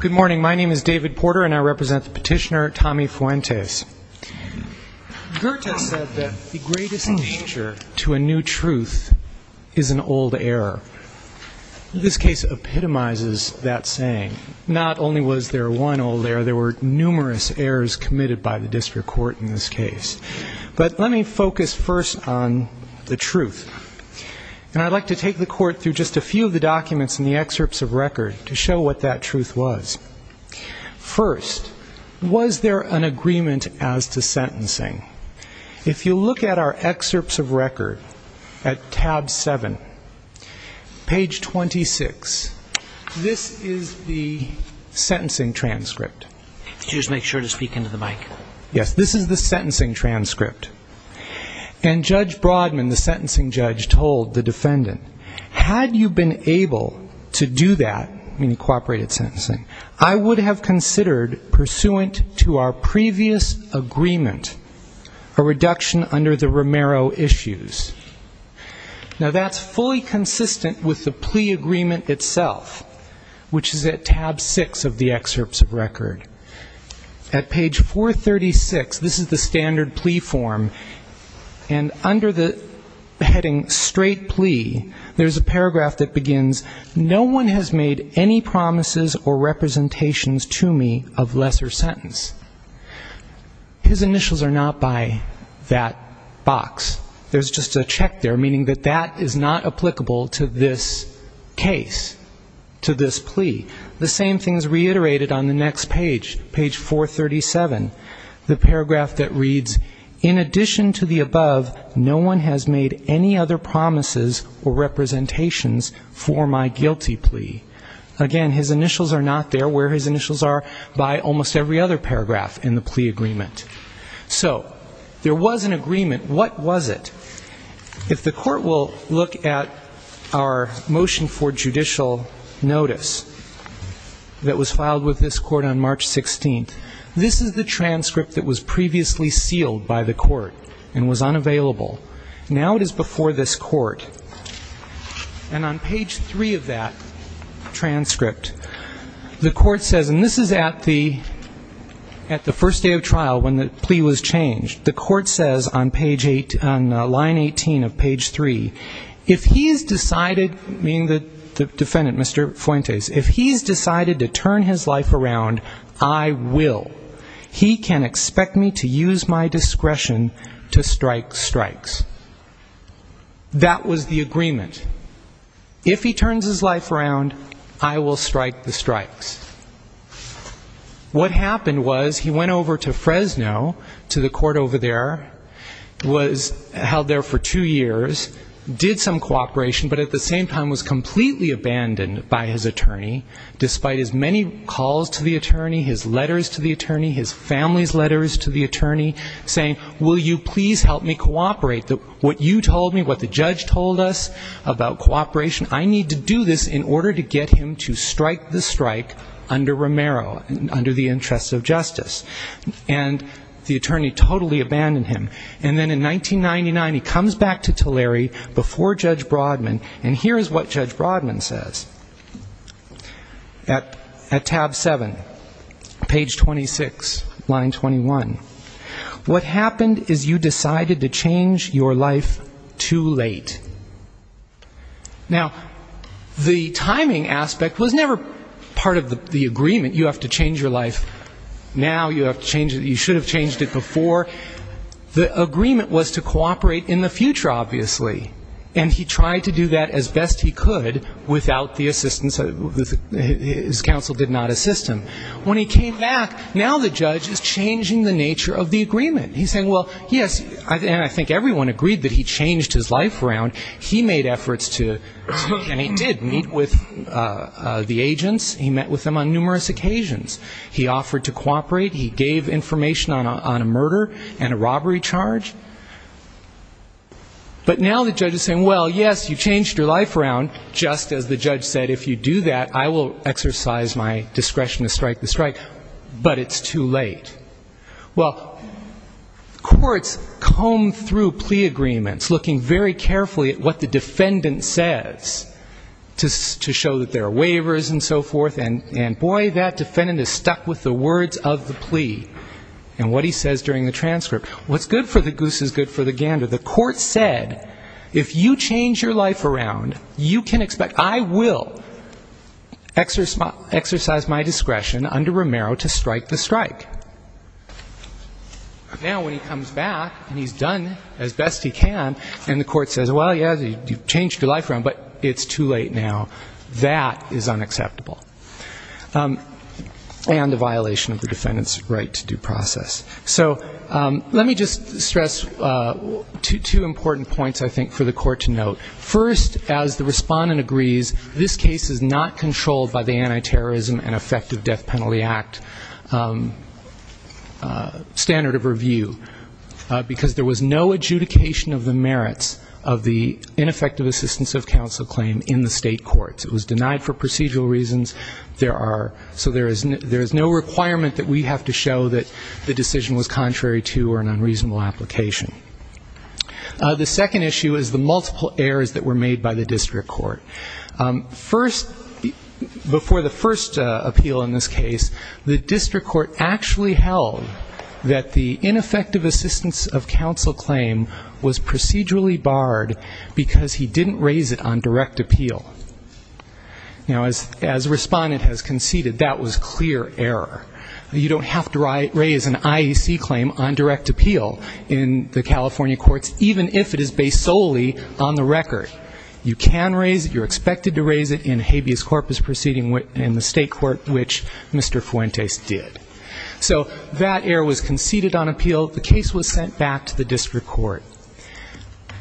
Good morning, my name is David Porter and I represent the petitioner Tommy Fuentes. Goethe said that the greatest danger to a new truth is an old error. This case epitomizes that saying. Not only was there one old error, there were numerous errors committed by the district court in this case. But let me focus first on the truth. And I'd like to take the court through just a few of the documents in the excerpts of record to show what that truth was. First, was there an agreement as to sentencing? If you look at our excerpts of record at tab 7, page 26, this is the sentencing transcript. Did you just make sure to speak into the mic? Yes, this is the sentencing transcript. And Judge Broadman, the sentencing judge, told the defendant, had you been able to do that, meaning cooperated sentencing, I would have considered, pursuant to our previous agreement, a reduction under the Romero issues. Now that's fully consistent with the plea agreement itself, which is at tab 6 of the excerpts of record. At page 436, this is the standard plea form, and under the heading straight plea, there's a paragraph that begins, no one has made any promises or representations to me of lesser sentence. His initials are not by that box. There's just a check there, meaning that that is not applicable to this case, to this plea. The same thing is reiterated on the next page, page 437, the paragraph that reads, in addition to the above, no one has made any other promises or representations for my guilty plea. Again, his initials are not there. Where his initials are, by almost every other paragraph in the plea agreement. So there was an agreement. What was it? If the court will look at our motion for judicial notice that was filed with this court on March 16th, this is the transcript that was previously sealed by the court and was unavailable. Now it is before this court, and on page 3 of that transcript, the court says, and this is at the first day of trial when the plea was changed, the court says on line 18 of page 3, if he has decided, meaning the defendant, Mr. Fuentes, if he has decided to turn his life around, I will. He can expect me to use my discretion to strike strikes. That was the agreement. If he turns his life around, I will strike the strikes. What happened was he went over to Fresno, to the court over there, was held there for two years, did some cooperation, but at the same time was completely abandoned by his attorney, despite his many calls to the attorney, his letters to the attorney, his family's letters to the attorney, saying, will you please help me cooperate? What you told me, what the judge told us about cooperation, I need to do this in order to get him to strike the strike under Romero, under the interest of justice. And the attorney totally abandoned him. And then in 1999 he comes back to Tulare before Judge Brodman, and here is what Judge Brodman says. At tab 7, page 26, line 21. What happened is you decided to change your life too late. Now, the timing aspect was never part of the agreement, you have to change your life now, you have to change it, you should have changed it before. The agreement was to cooperate in the future, obviously. And he tried to do that as best he could without the assistance, his counsel did not assist him. When he came back, now the judge is changing the nature of the agreement. He's saying, well, yes, and I think everyone agreed that he changed his life around, he made efforts to, and he did meet with the agents, he met with them on numerous occasions. He offered to cooperate, he gave information on a murder and a robbery charge. But now the judge is saying, well, yes, you changed your life around, just as the judge said, if you do that, I will exercise my discretion to strike the strike, but it's too late. Well, courts combed through plea agreements, looking very carefully at what the defendant says to show that there are waivers and so forth, and boy, that defendant is stuck with the words of the plea and what he says during the transcript. What's good for the goose is good for the gander. The court said, if you change your life around, you can expect, I will exercise my discretion under Romero to strike the strike. Now when he comes back and he's done as best he can, and the court says, well, yes, you changed your life around, but it's too late now, that is unacceptable. And a violation of the defendant's right to due process. So let me just stress two important points, I think, for the court to note. First, as the respondent agrees, this case is not controlled by the Anti-Terrorism and Effective Death Penalty Act. It's a standard of review, because there was no adjudication of the merits of the ineffective assistance of counsel claim in the state courts. It was denied for procedural reasons. So there is no requirement that we have to show that the decision was contrary to or an unreasonable application. The second issue is the multiple errors that were made by the district court. First, before the first appeal in this case, the district court actually held that the ineffective assistance of counsel claim was procedurally barred because he didn't raise it on direct appeal. Now, as the respondent has conceded, that was clear error. You don't have to raise an IEC claim on direct appeal in the California courts, even if it is based solely on the record. You can raise it, you're expected to raise it in habeas corpus proceeding in the state court, which Mr. Fuentes did. So that error was conceded on appeal, the case was sent back to the district court.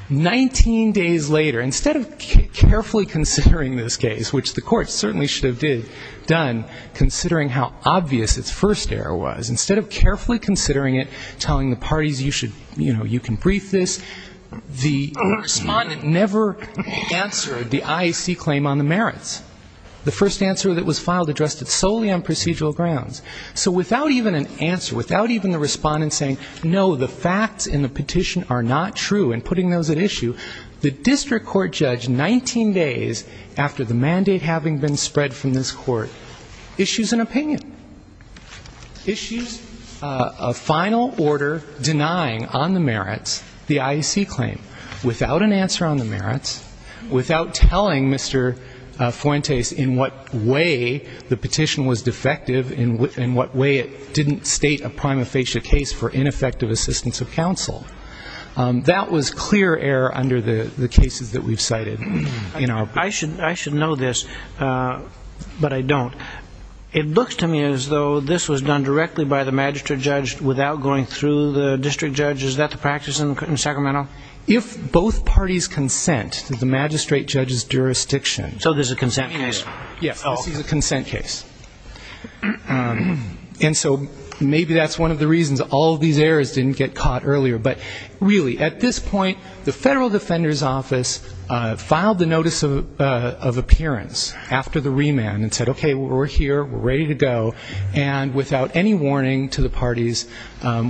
19 days later, instead of carefully considering this case, which the court certainly should have done, considering how obvious its first error was, instead of carefully considering it, telling the parties you should, you know, you can brief this, the court answered the IEC claim on the merits. The first answer that was filed addressed it solely on procedural grounds. So without even an answer, without even the respondent saying, no, the facts in the petition are not true, and putting those at issue, the district court judge, 19 days after the mandate having been spread from this court, issues an opinion. Issues a final order denying on the merits the IEC claim, without an answer on the merits, without telling Mr. Fuentes in what way the petition was defective, in what way it didn't state a prima facie case for ineffective assistance of counsel. That was clear error under the cases that we've cited. I should know this, but I don't. It looks to me as though this was done directly by the magistrate judge without going through the district judge. Is that the practice in Sacramento? If both parties consent to the magistrate judge's jurisdiction. So this is a consent case. And so maybe that's one of the reasons all of these errors didn't get caught earlier. But really, at this point, the federal defender's office filed the notice of appearance after the remand and said, okay, we're here, we're ready to go, and without any warning to the parties,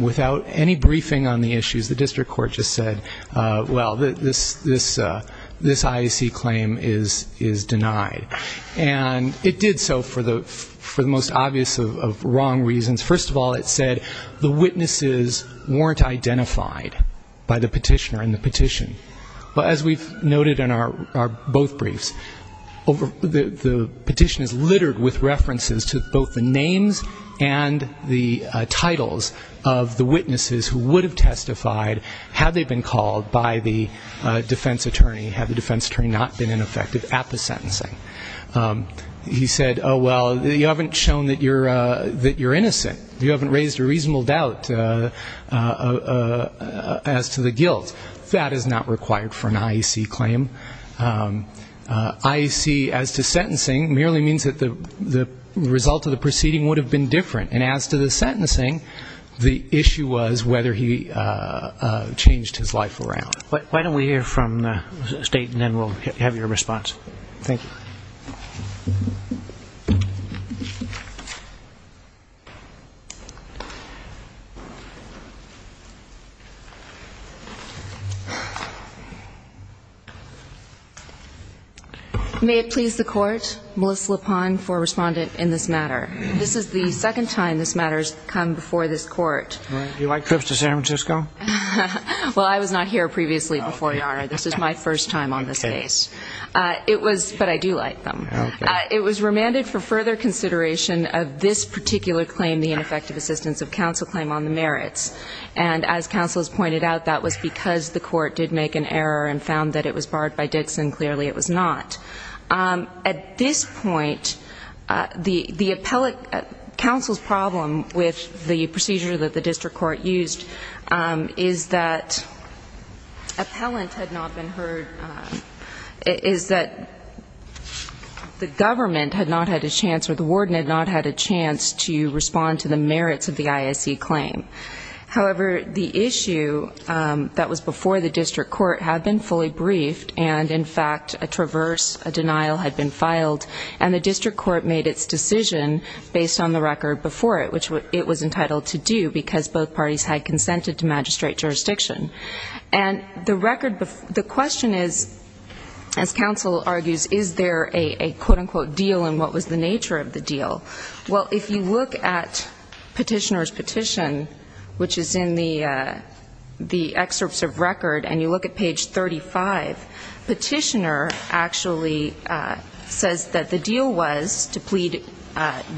without any briefing on the issues, the district court just said, well, this IEC claim is denied. And it did so for the most obvious of wrong reasons. First of all, it said the witnesses weren't identified by the petitioner in the petition. But as we've noted in our both briefs, the petition is littered with references to both the names and the titles of the witnesses who would have testified had they been called by the defense attorney, had the defense attorney not been ineffective at his sentencing. He said, oh, well, you haven't shown that you're innocent. You haven't raised a reasonable doubt as to the guilt. That is not required for an IEC claim. IEC as to sentencing merely means that the result of the proceeding would have been different. And as to the sentencing, the issue was whether he changed his life around. And I think that's a good point. Why don't we hear from the state, and then we'll have your response. Thank you. May it please the court, Melissa LaPone for respondent in this matter. This is the second time this matter has come before this court. Previously before YARA, this is my first time on this case. But I do like them. It was remanded for further consideration of this particular claim, the ineffective assistance of counsel claim on the merits. And as counsel has pointed out, that was because the court did make an error and found that it was barred by Dixon. Clearly it was not. At this point, the appellate counsel's problem with the procedure that the district court used is that the government had not had a chance or the warden had not had a chance to respond to the merits of the IEC claim. However, the issue that was before the district court had been fully briefed and, in fact, a traverse, a denial had been filed. And the district court made its decision based on the record before it, which it was entitled to do because both parties had consented to magistrate jurisdiction. And the record, the question is, as counsel argues, is there a, quote-unquote, deal, and what was the nature of the deal? Well, if you look at Petitioner's petition, which is in the excerpts of record, and you look at page 35, Petitioner actually says that the deal was to plead,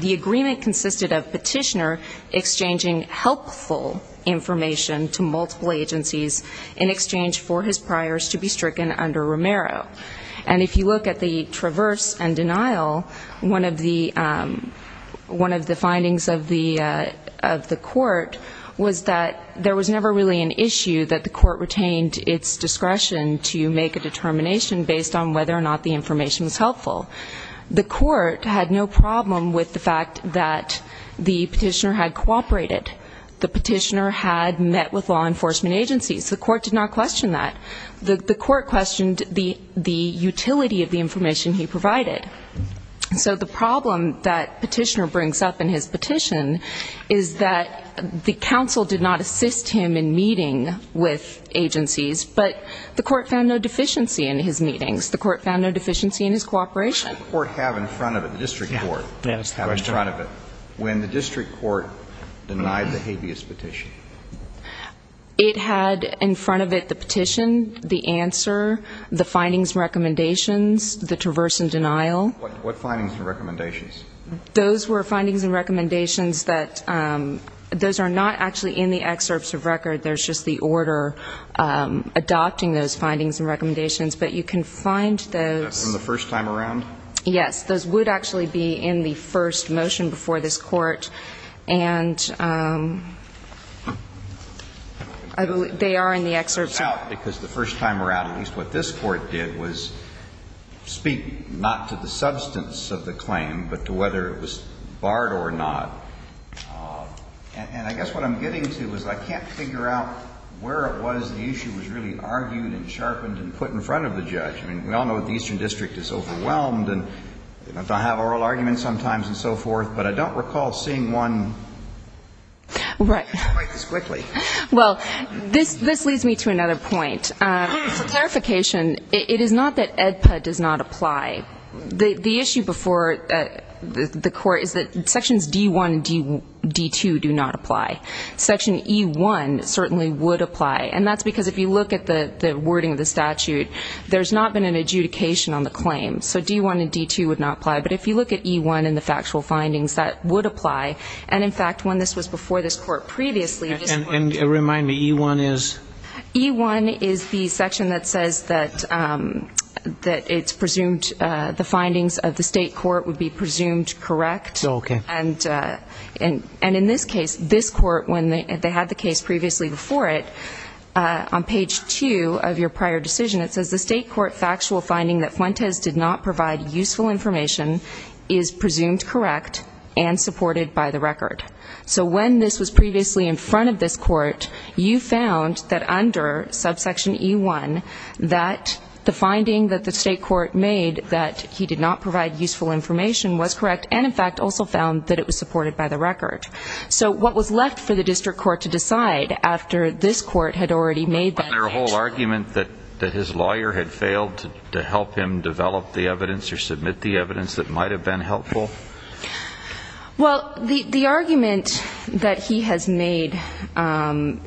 the agreement consisted of Petitioner exchanging helpful information to multiple parties. Multiple agencies in exchange for his priors to be stricken under Romero. And if you look at the traverse and denial, one of the findings of the court was that there was never really an issue that the court retained its discretion to make a determination based on whether or not the information was helpful. The court had no problem with the fact that the Petitioner had cooperated. The Petitioner had met with law enforcement agencies. The court did not question that. The court questioned the utility of the information he provided. So the problem that Petitioner brings up in his petition is that the counsel did not assist him in meeting with agencies, but the court found no deficiency in his meetings. The court found no deficiency in his cooperation. What does the court have in front of it, the district court have in front of it, when the district court denied the habeas petition? It had in front of it the petition, the answer, the findings and recommendations, the traverse and denial. What findings and recommendations? Those were findings and recommendations that those are not actually in the excerpts of record. There's just the order adopting those findings and recommendations. But you can find those. That's from the first time around? Yes. Those would actually be in the first motion before this Court, and they are in the excerpt. Because the first time around, at least what this Court did was speak not to the substance of the claim, but to whether it was barred or not. And I guess what I'm getting to is I can't figure out where it was the issue was really argued and sharpened and put in front of the judge. I mean, we all know that the Eastern District is overwhelmed, and they have oral arguments sometimes and so forth. But I don't recall seeing one quite this quickly. Well, this leads me to another point. For clarification, it is not that AEDPA does not apply. The issue before the Court is that Sections D-1 and D-2 do not apply. Section E-1 certainly would apply. And that's because if you look at the wording of the statute, there's not been an adjudication on the claim. So D-1 and D-2 would not apply. But if you look at E-1 and the factual findings, that would apply. And in fact, when this was before this Court previously... And remind me, E-1 is? E-1 is the section that says that it's presumed the findings of the state court would be presumed correct. And in this case, this Court, when they had the case previously before it, on page 2 of your prior decision, it says the state court factual finding that Fuentes did not provide useful information is presumed correct and supported by the record. So when this was previously in front of this Court, you found that under subsection E-1, that the finding that the state court made that he did not provide useful information was correct, and in fact also found that it was supported by the record. So what was left for the district court to decide after this Court had already made that judgment? Was there no argument that his lawyer had failed to help him develop the evidence or submit the evidence that might have been helpful? Well, the argument that he has made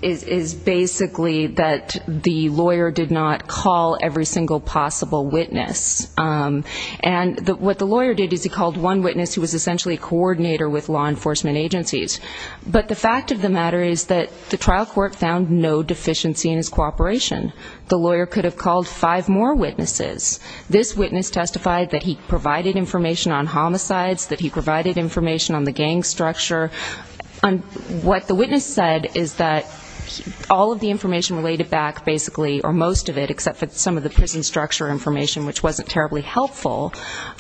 is basically that the lawyer did not call every single possible witness. And what the lawyer did is he called one witness who was essentially a coordinator with law enforcement agencies. But the fact of the matter is that the trial court found no deficiency in his cooperation. The lawyer could have called five more witnesses. This witness testified that he provided information on homicides, that he provided information on the gang structure. What the witness said is that all of the information related back basically, or most of it, except for some of the prison structure information, which wasn't terribly helpful,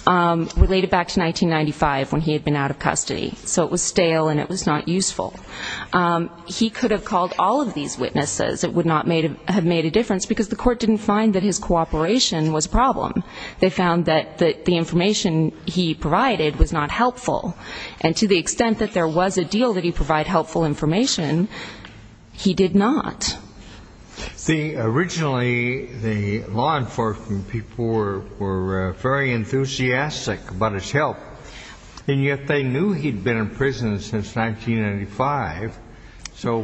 related back to 1995 when he had been out of custody. So it was stale and it was not useful. He could have called all of these witnesses. It would not have made a difference, because the court didn't find that his cooperation was a problem. They found that the information he provided was not helpful. And to the extent that there was a deal that he provide helpful information, he did not. Originally, the law enforcement people were very enthusiastic about his help. And yet they knew he'd been in prison since 1995. So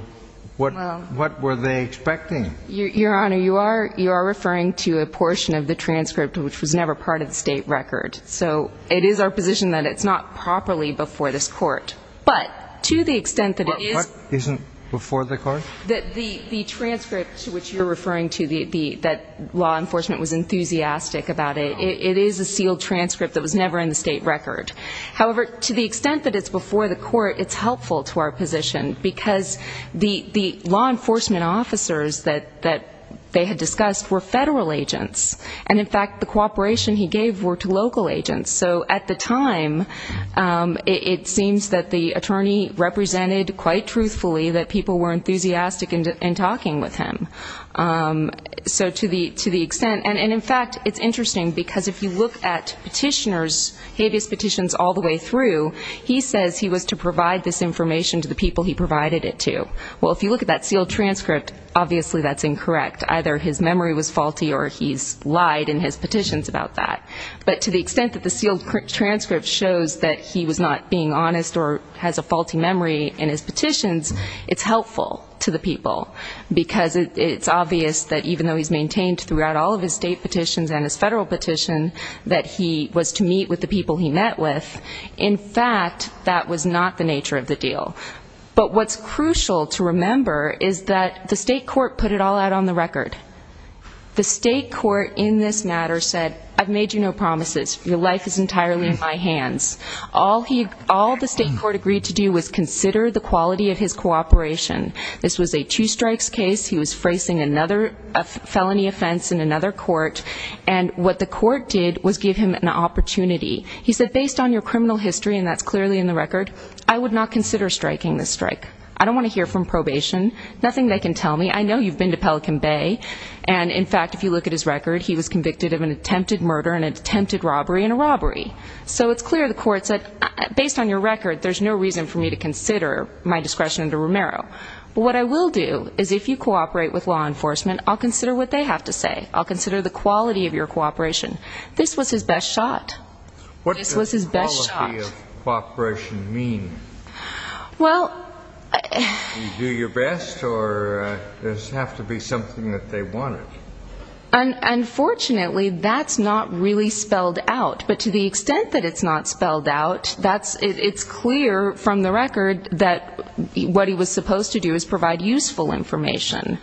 what were they expecting? Your Honor, you are referring to a portion of the transcript which was never part of the state record. So it is our position that it's not properly before this court. But to the extent that it is the transcript to which you're referring to that law enforcement was enthusiastic about it, it is a sealed transcript that was never in the state record. However, to the extent that it's before the court, it's helpful to our position, because the law enforcement officers that they had discussed were federal agents. And in fact, the cooperation he gave were to local agents. So at the time, it seems that the attorney represented quite truthfully that people were enthusiastic in talking with him. So to the extent, and in fact, it's interesting, because if you look at petitioners, habeas petitions all the way through, he says he was to provide this information to the people he provided it to. Well, if you look at that sealed transcript, obviously that's incorrect. Either his memory was faulty or he's lied in his petitions about that. But to the extent that the sealed transcript shows that he was not being honest or has a faulty memory in his petitions, it's helpful to the people. Because it's obvious that even though he's maintained throughout all of his state petitions and his federal petition that he was to meet with the people he met with, in fact, that was not the nature of the deal. But what's crucial to remember is that the state court put it all out on the record. The state court in this matter said, I've made you no promises, your life is entirely in my hands. All the state court agreed to do was consider the quality of his cooperation. This was a two strikes case. He was facing another felony offense in another court, and what the court did was give him an opportunity. He said, based on your criminal history, and that's clearly in the record, I would not consider striking this strike. I don't want to hear from probation. Nothing they can tell me. I know you've been to Pelican Bay. And in fact, if you look at his record, he was convicted of an attempted murder, an attempted robbery, and a robbery. So it's clear the court said, based on your record, there's no reason for me to consider my discretion under Romero. But what I will do is if you cooperate with law enforcement, I'll consider what they have to say. I'll consider the quality of your cooperation. This was his best shot. This was his best shot. What does quality of cooperation mean? Do you do your best, or does it have to be something that they wanted? Unfortunately, that's not really spelled out. But to the extent that it's not spelled out, it's clear from the record that what he was supposed to do is provide useful information.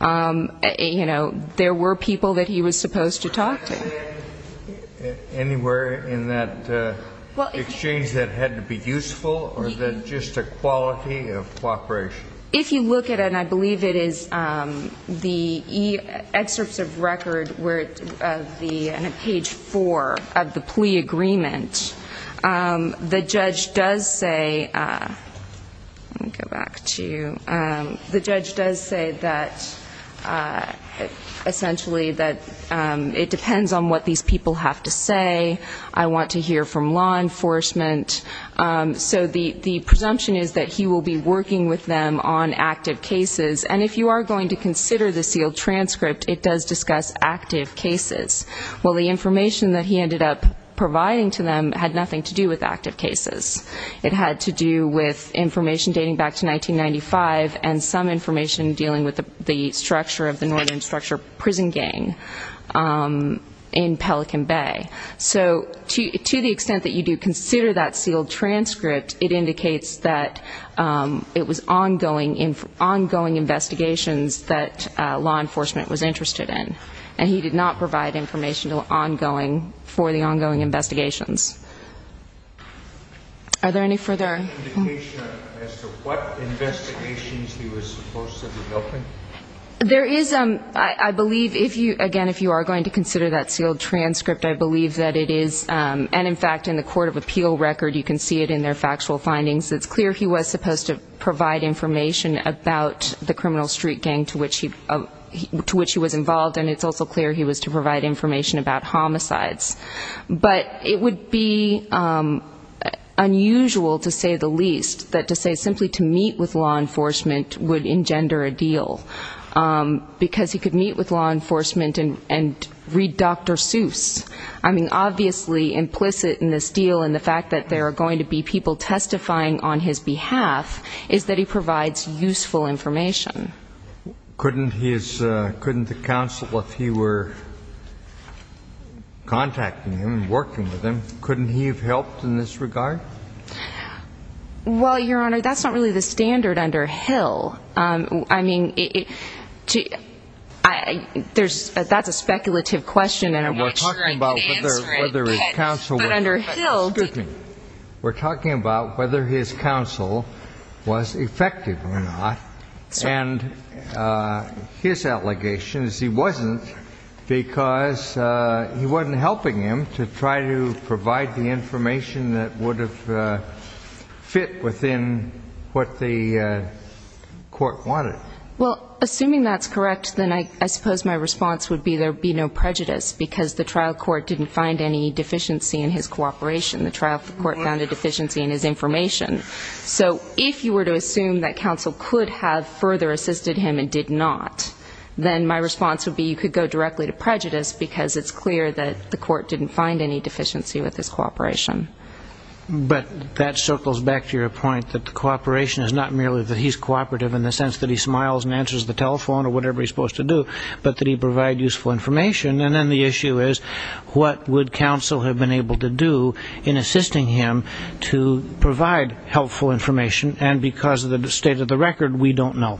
There were people that he was supposed to talk to. Anywhere in that exchange that had to be useful, or just a quality of cooperation? If you look at it, and I believe it is the excerpts of record where it's on page 4 of the plea agreement, the judge does say that, essentially, it depends on what the court says. It depends on what these people have to say. I want to hear from law enforcement. So the presumption is that he will be working with them on active cases. And if you are going to consider the sealed transcript, it does discuss active cases. Well, the information that he ended up providing to them had nothing to do with active cases. It had to do with information dating back to 1995 and some information dealing with the structure of the northern structure prison gang. So to the extent that you do consider that sealed transcript, it indicates that it was ongoing investigations that law enforcement was interested in. And he did not provide information for the ongoing investigations. Are there any further? There is, I believe, again, if you are going to consider that sealed transcript, I believe that it is, and in fact in the court of appeal record you can see it in their factual findings, it's clear he was supposed to provide information about the criminal street gang to which he was involved, and it's also clear he was to provide information about homicides. But it would be unusual to say the least that to say simply to meet with law enforcement would engender a deal, because he could meet with law enforcement and read Dr. Seuss. I mean, obviously implicit in this deal and the fact that there are going to be people testifying on his behalf is that he provides useful information. Couldn't the counsel, if he were contacting him and working with him, couldn't he have helped in this regard? Well, Your Honor, that's not really the standard under Hill. I mean, that's a speculative question, and I want to make sure I can answer it. Excuse me. We're talking about whether his counsel was effective or not, and his allegation is he wasn't, because he wasn't helping him to try to provide the information that would have fit within what the court wanted. Well, assuming that's correct, then I suppose my response would be there would be no prejudice, because the trial court didn't find any deficiency in his cooperation. The trial court found a deficiency in his information. So if you were to assume that counsel could have further assisted him and did not, then my response would be you could go directly to prejudice, because it's clear that the court didn't find any deficiency with his cooperation. But that circles back to your point that the cooperation is not merely that he's cooperative in the sense that he smiles and answers the telephone or whatever he's supposed to do, but that he provides useful information, and then the issue is what would counsel have been able to do in assisting him to provide helpful information, and because of the state of the record, we don't know.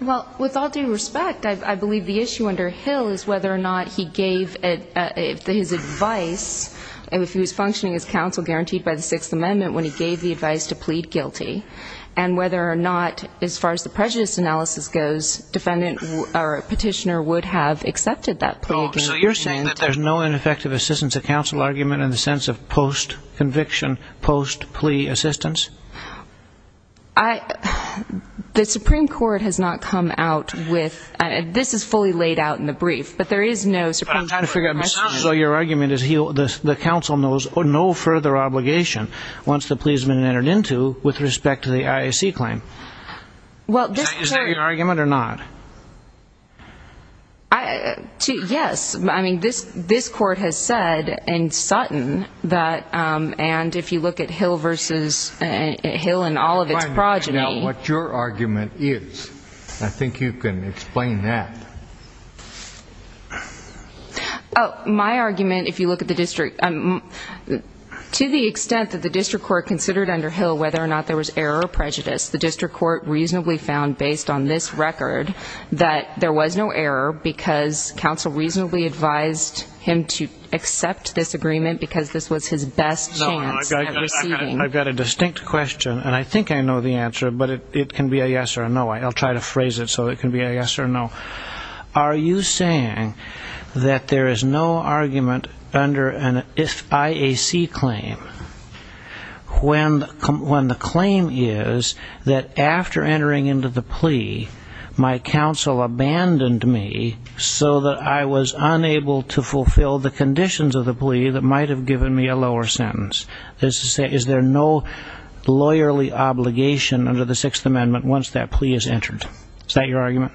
Well, with all due respect, I believe the issue under Hill is whether or not he gave his advice, if he was functioning as counsel guaranteed by the Sixth Amendment, when he gave the advice to plead guilty, and whether or not, as far as the prejudice analysis goes, a petitioner would have accepted that plea. So you're saying that there's no ineffective assistance of counsel argument in the sense of post-conviction, post-plea assistance? The Supreme Court has not come out with this. This is fully laid out in the brief. But I'm trying to figure out, so your argument is the counsel knows no further obligation once the plea has been entered into with respect to the IAC claim? Is that your argument or not? Yes. I mean, this Court has said in Sutton that, and if you look at Hill and all of its progeny... My argument, if you look at the district, to the extent that the district court considered under Hill whether or not there was error or prejudice, the district court reasonably found, based on this record, that there was no error because counsel reasonably advised him to accept this agreement because this was his best chance at receiving. I've got a distinct question, and I think I know the answer, but it can be a yes or a no. I'll try to phrase it so it can be a yes or a no. Are you saying that there is no argument under an IAC claim when the claim is that after entering into the plea, my counsel abandoned me so that I was unable to fulfill the conditions of the plea that might have given me a lower sentence? Is there no lawyerly obligation under the Sixth Amendment once that plea is entered? Is that your argument?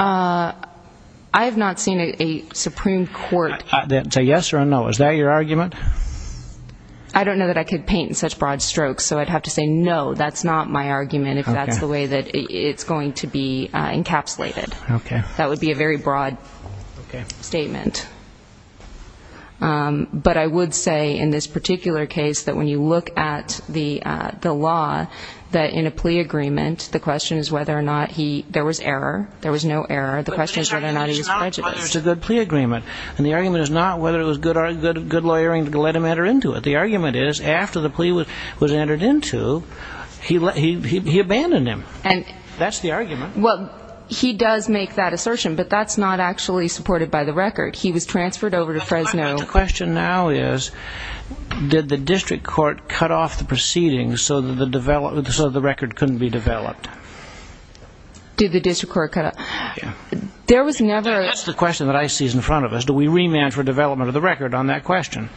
I have not seen a Supreme Court... Is that a yes or a no? Is that your argument? I don't know that I could paint in such broad strokes, so I'd have to say no, that's not my argument, if that's the way that it's going to be encapsulated. That would be a very broad statement. But I would say in this particular case that when you look at the law, that in a plea agreement, the question is whether or not he... There was error. There was no error. The question is whether or not he was prejudiced. It's not whether it's a good plea agreement. And the argument is not whether it was good lawyering to let him enter into it. The argument is, after the plea was entered into, he abandoned him. That's the argument. Well, he does make that assertion, but that's not actually supported by the record. He was transferred over to Fresno. The question now is, did the district court cut off the proceedings so that the record couldn't be developed? Did the district court cut off... That's the question that I see is in front of us. Do we remand for development of the record on that question?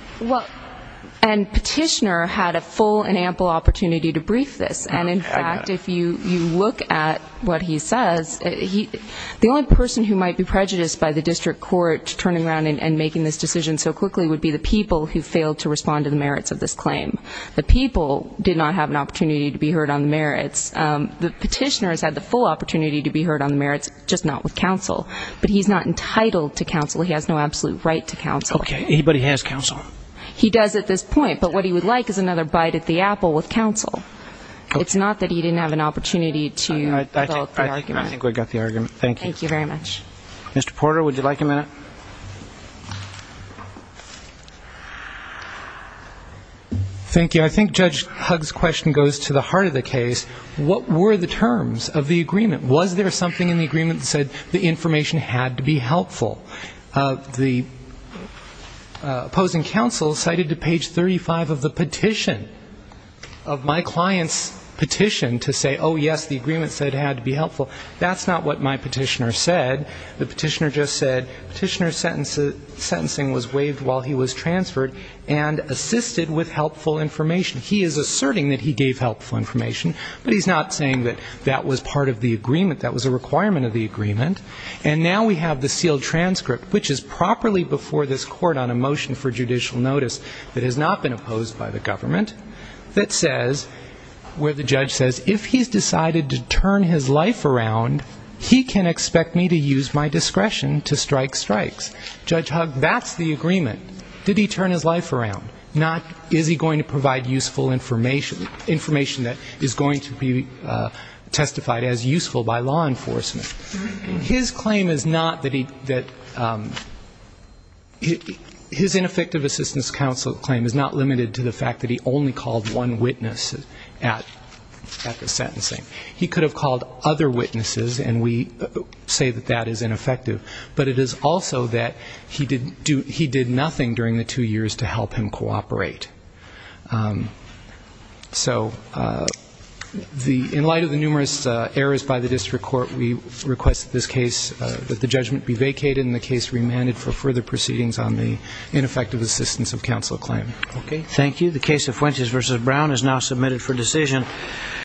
And Petitioner had a full and ample opportunity to brief this. And in fact, if you look at what he says, the only person who might be prejudiced by the district court turning around and making this decision so quickly would be the people who failed to respond to the merits of this claim. The people did not have an opportunity to be heard on the merits. The Petitioner has had the full opportunity to be heard on the merits, just not with counsel. But he's not entitled to counsel. He has no absolute right to counsel. Okay. Anybody has counsel? He does at this point, but what he would like is another bite at the apple with counsel. It's not that he didn't have an opportunity to develop the argument. I think we got the argument. Thank you. Thank you very much. Mr. Porter, would you like a minute? Thank you. I think Judge Hugg's question goes to the heart of the case. What were the terms of the agreement? Was there something in the agreement that said the information had to be helpful? The opposing counsel cited to page 35 of the petition, of my client's petition to say, oh, yes, the agreement said it had to be helpful. That's not what my Petitioner said. The Petitioner just said Petitioner's sentencing was waived while he was transferred and assisted with helpful information. He is asserting that he gave helpful information, but he's not saying that that was part of the agreement. That was a requirement of the agreement. And now we have the sealed transcript, which is properly before this Court on a motion for judicial notice that has not been opposed by the government, that says, where the judge says, if he's decided to turn his life around, he can expect me to use my discretion to strike strikes. Judge Hugg, that's the agreement. Did he turn his life around? Not is he going to provide useful information, information that is going to be testified as useful by law enforcement. His claim is not that he, that his ineffective assistance counsel claim is not limited to the fact that he only called one witness at the sentencing. He could have called other witnesses, and we say that that is ineffective. But it is also that he did nothing during the two years to help him cooperate. So in light of the numerous errors by the district court, we request that this case, that the judgment be vacated and the case remanded for further proceedings on the ineffective assistance of counsel claim. Okay, thank you. The case of Fuentes v. Brown is now submitted for decision.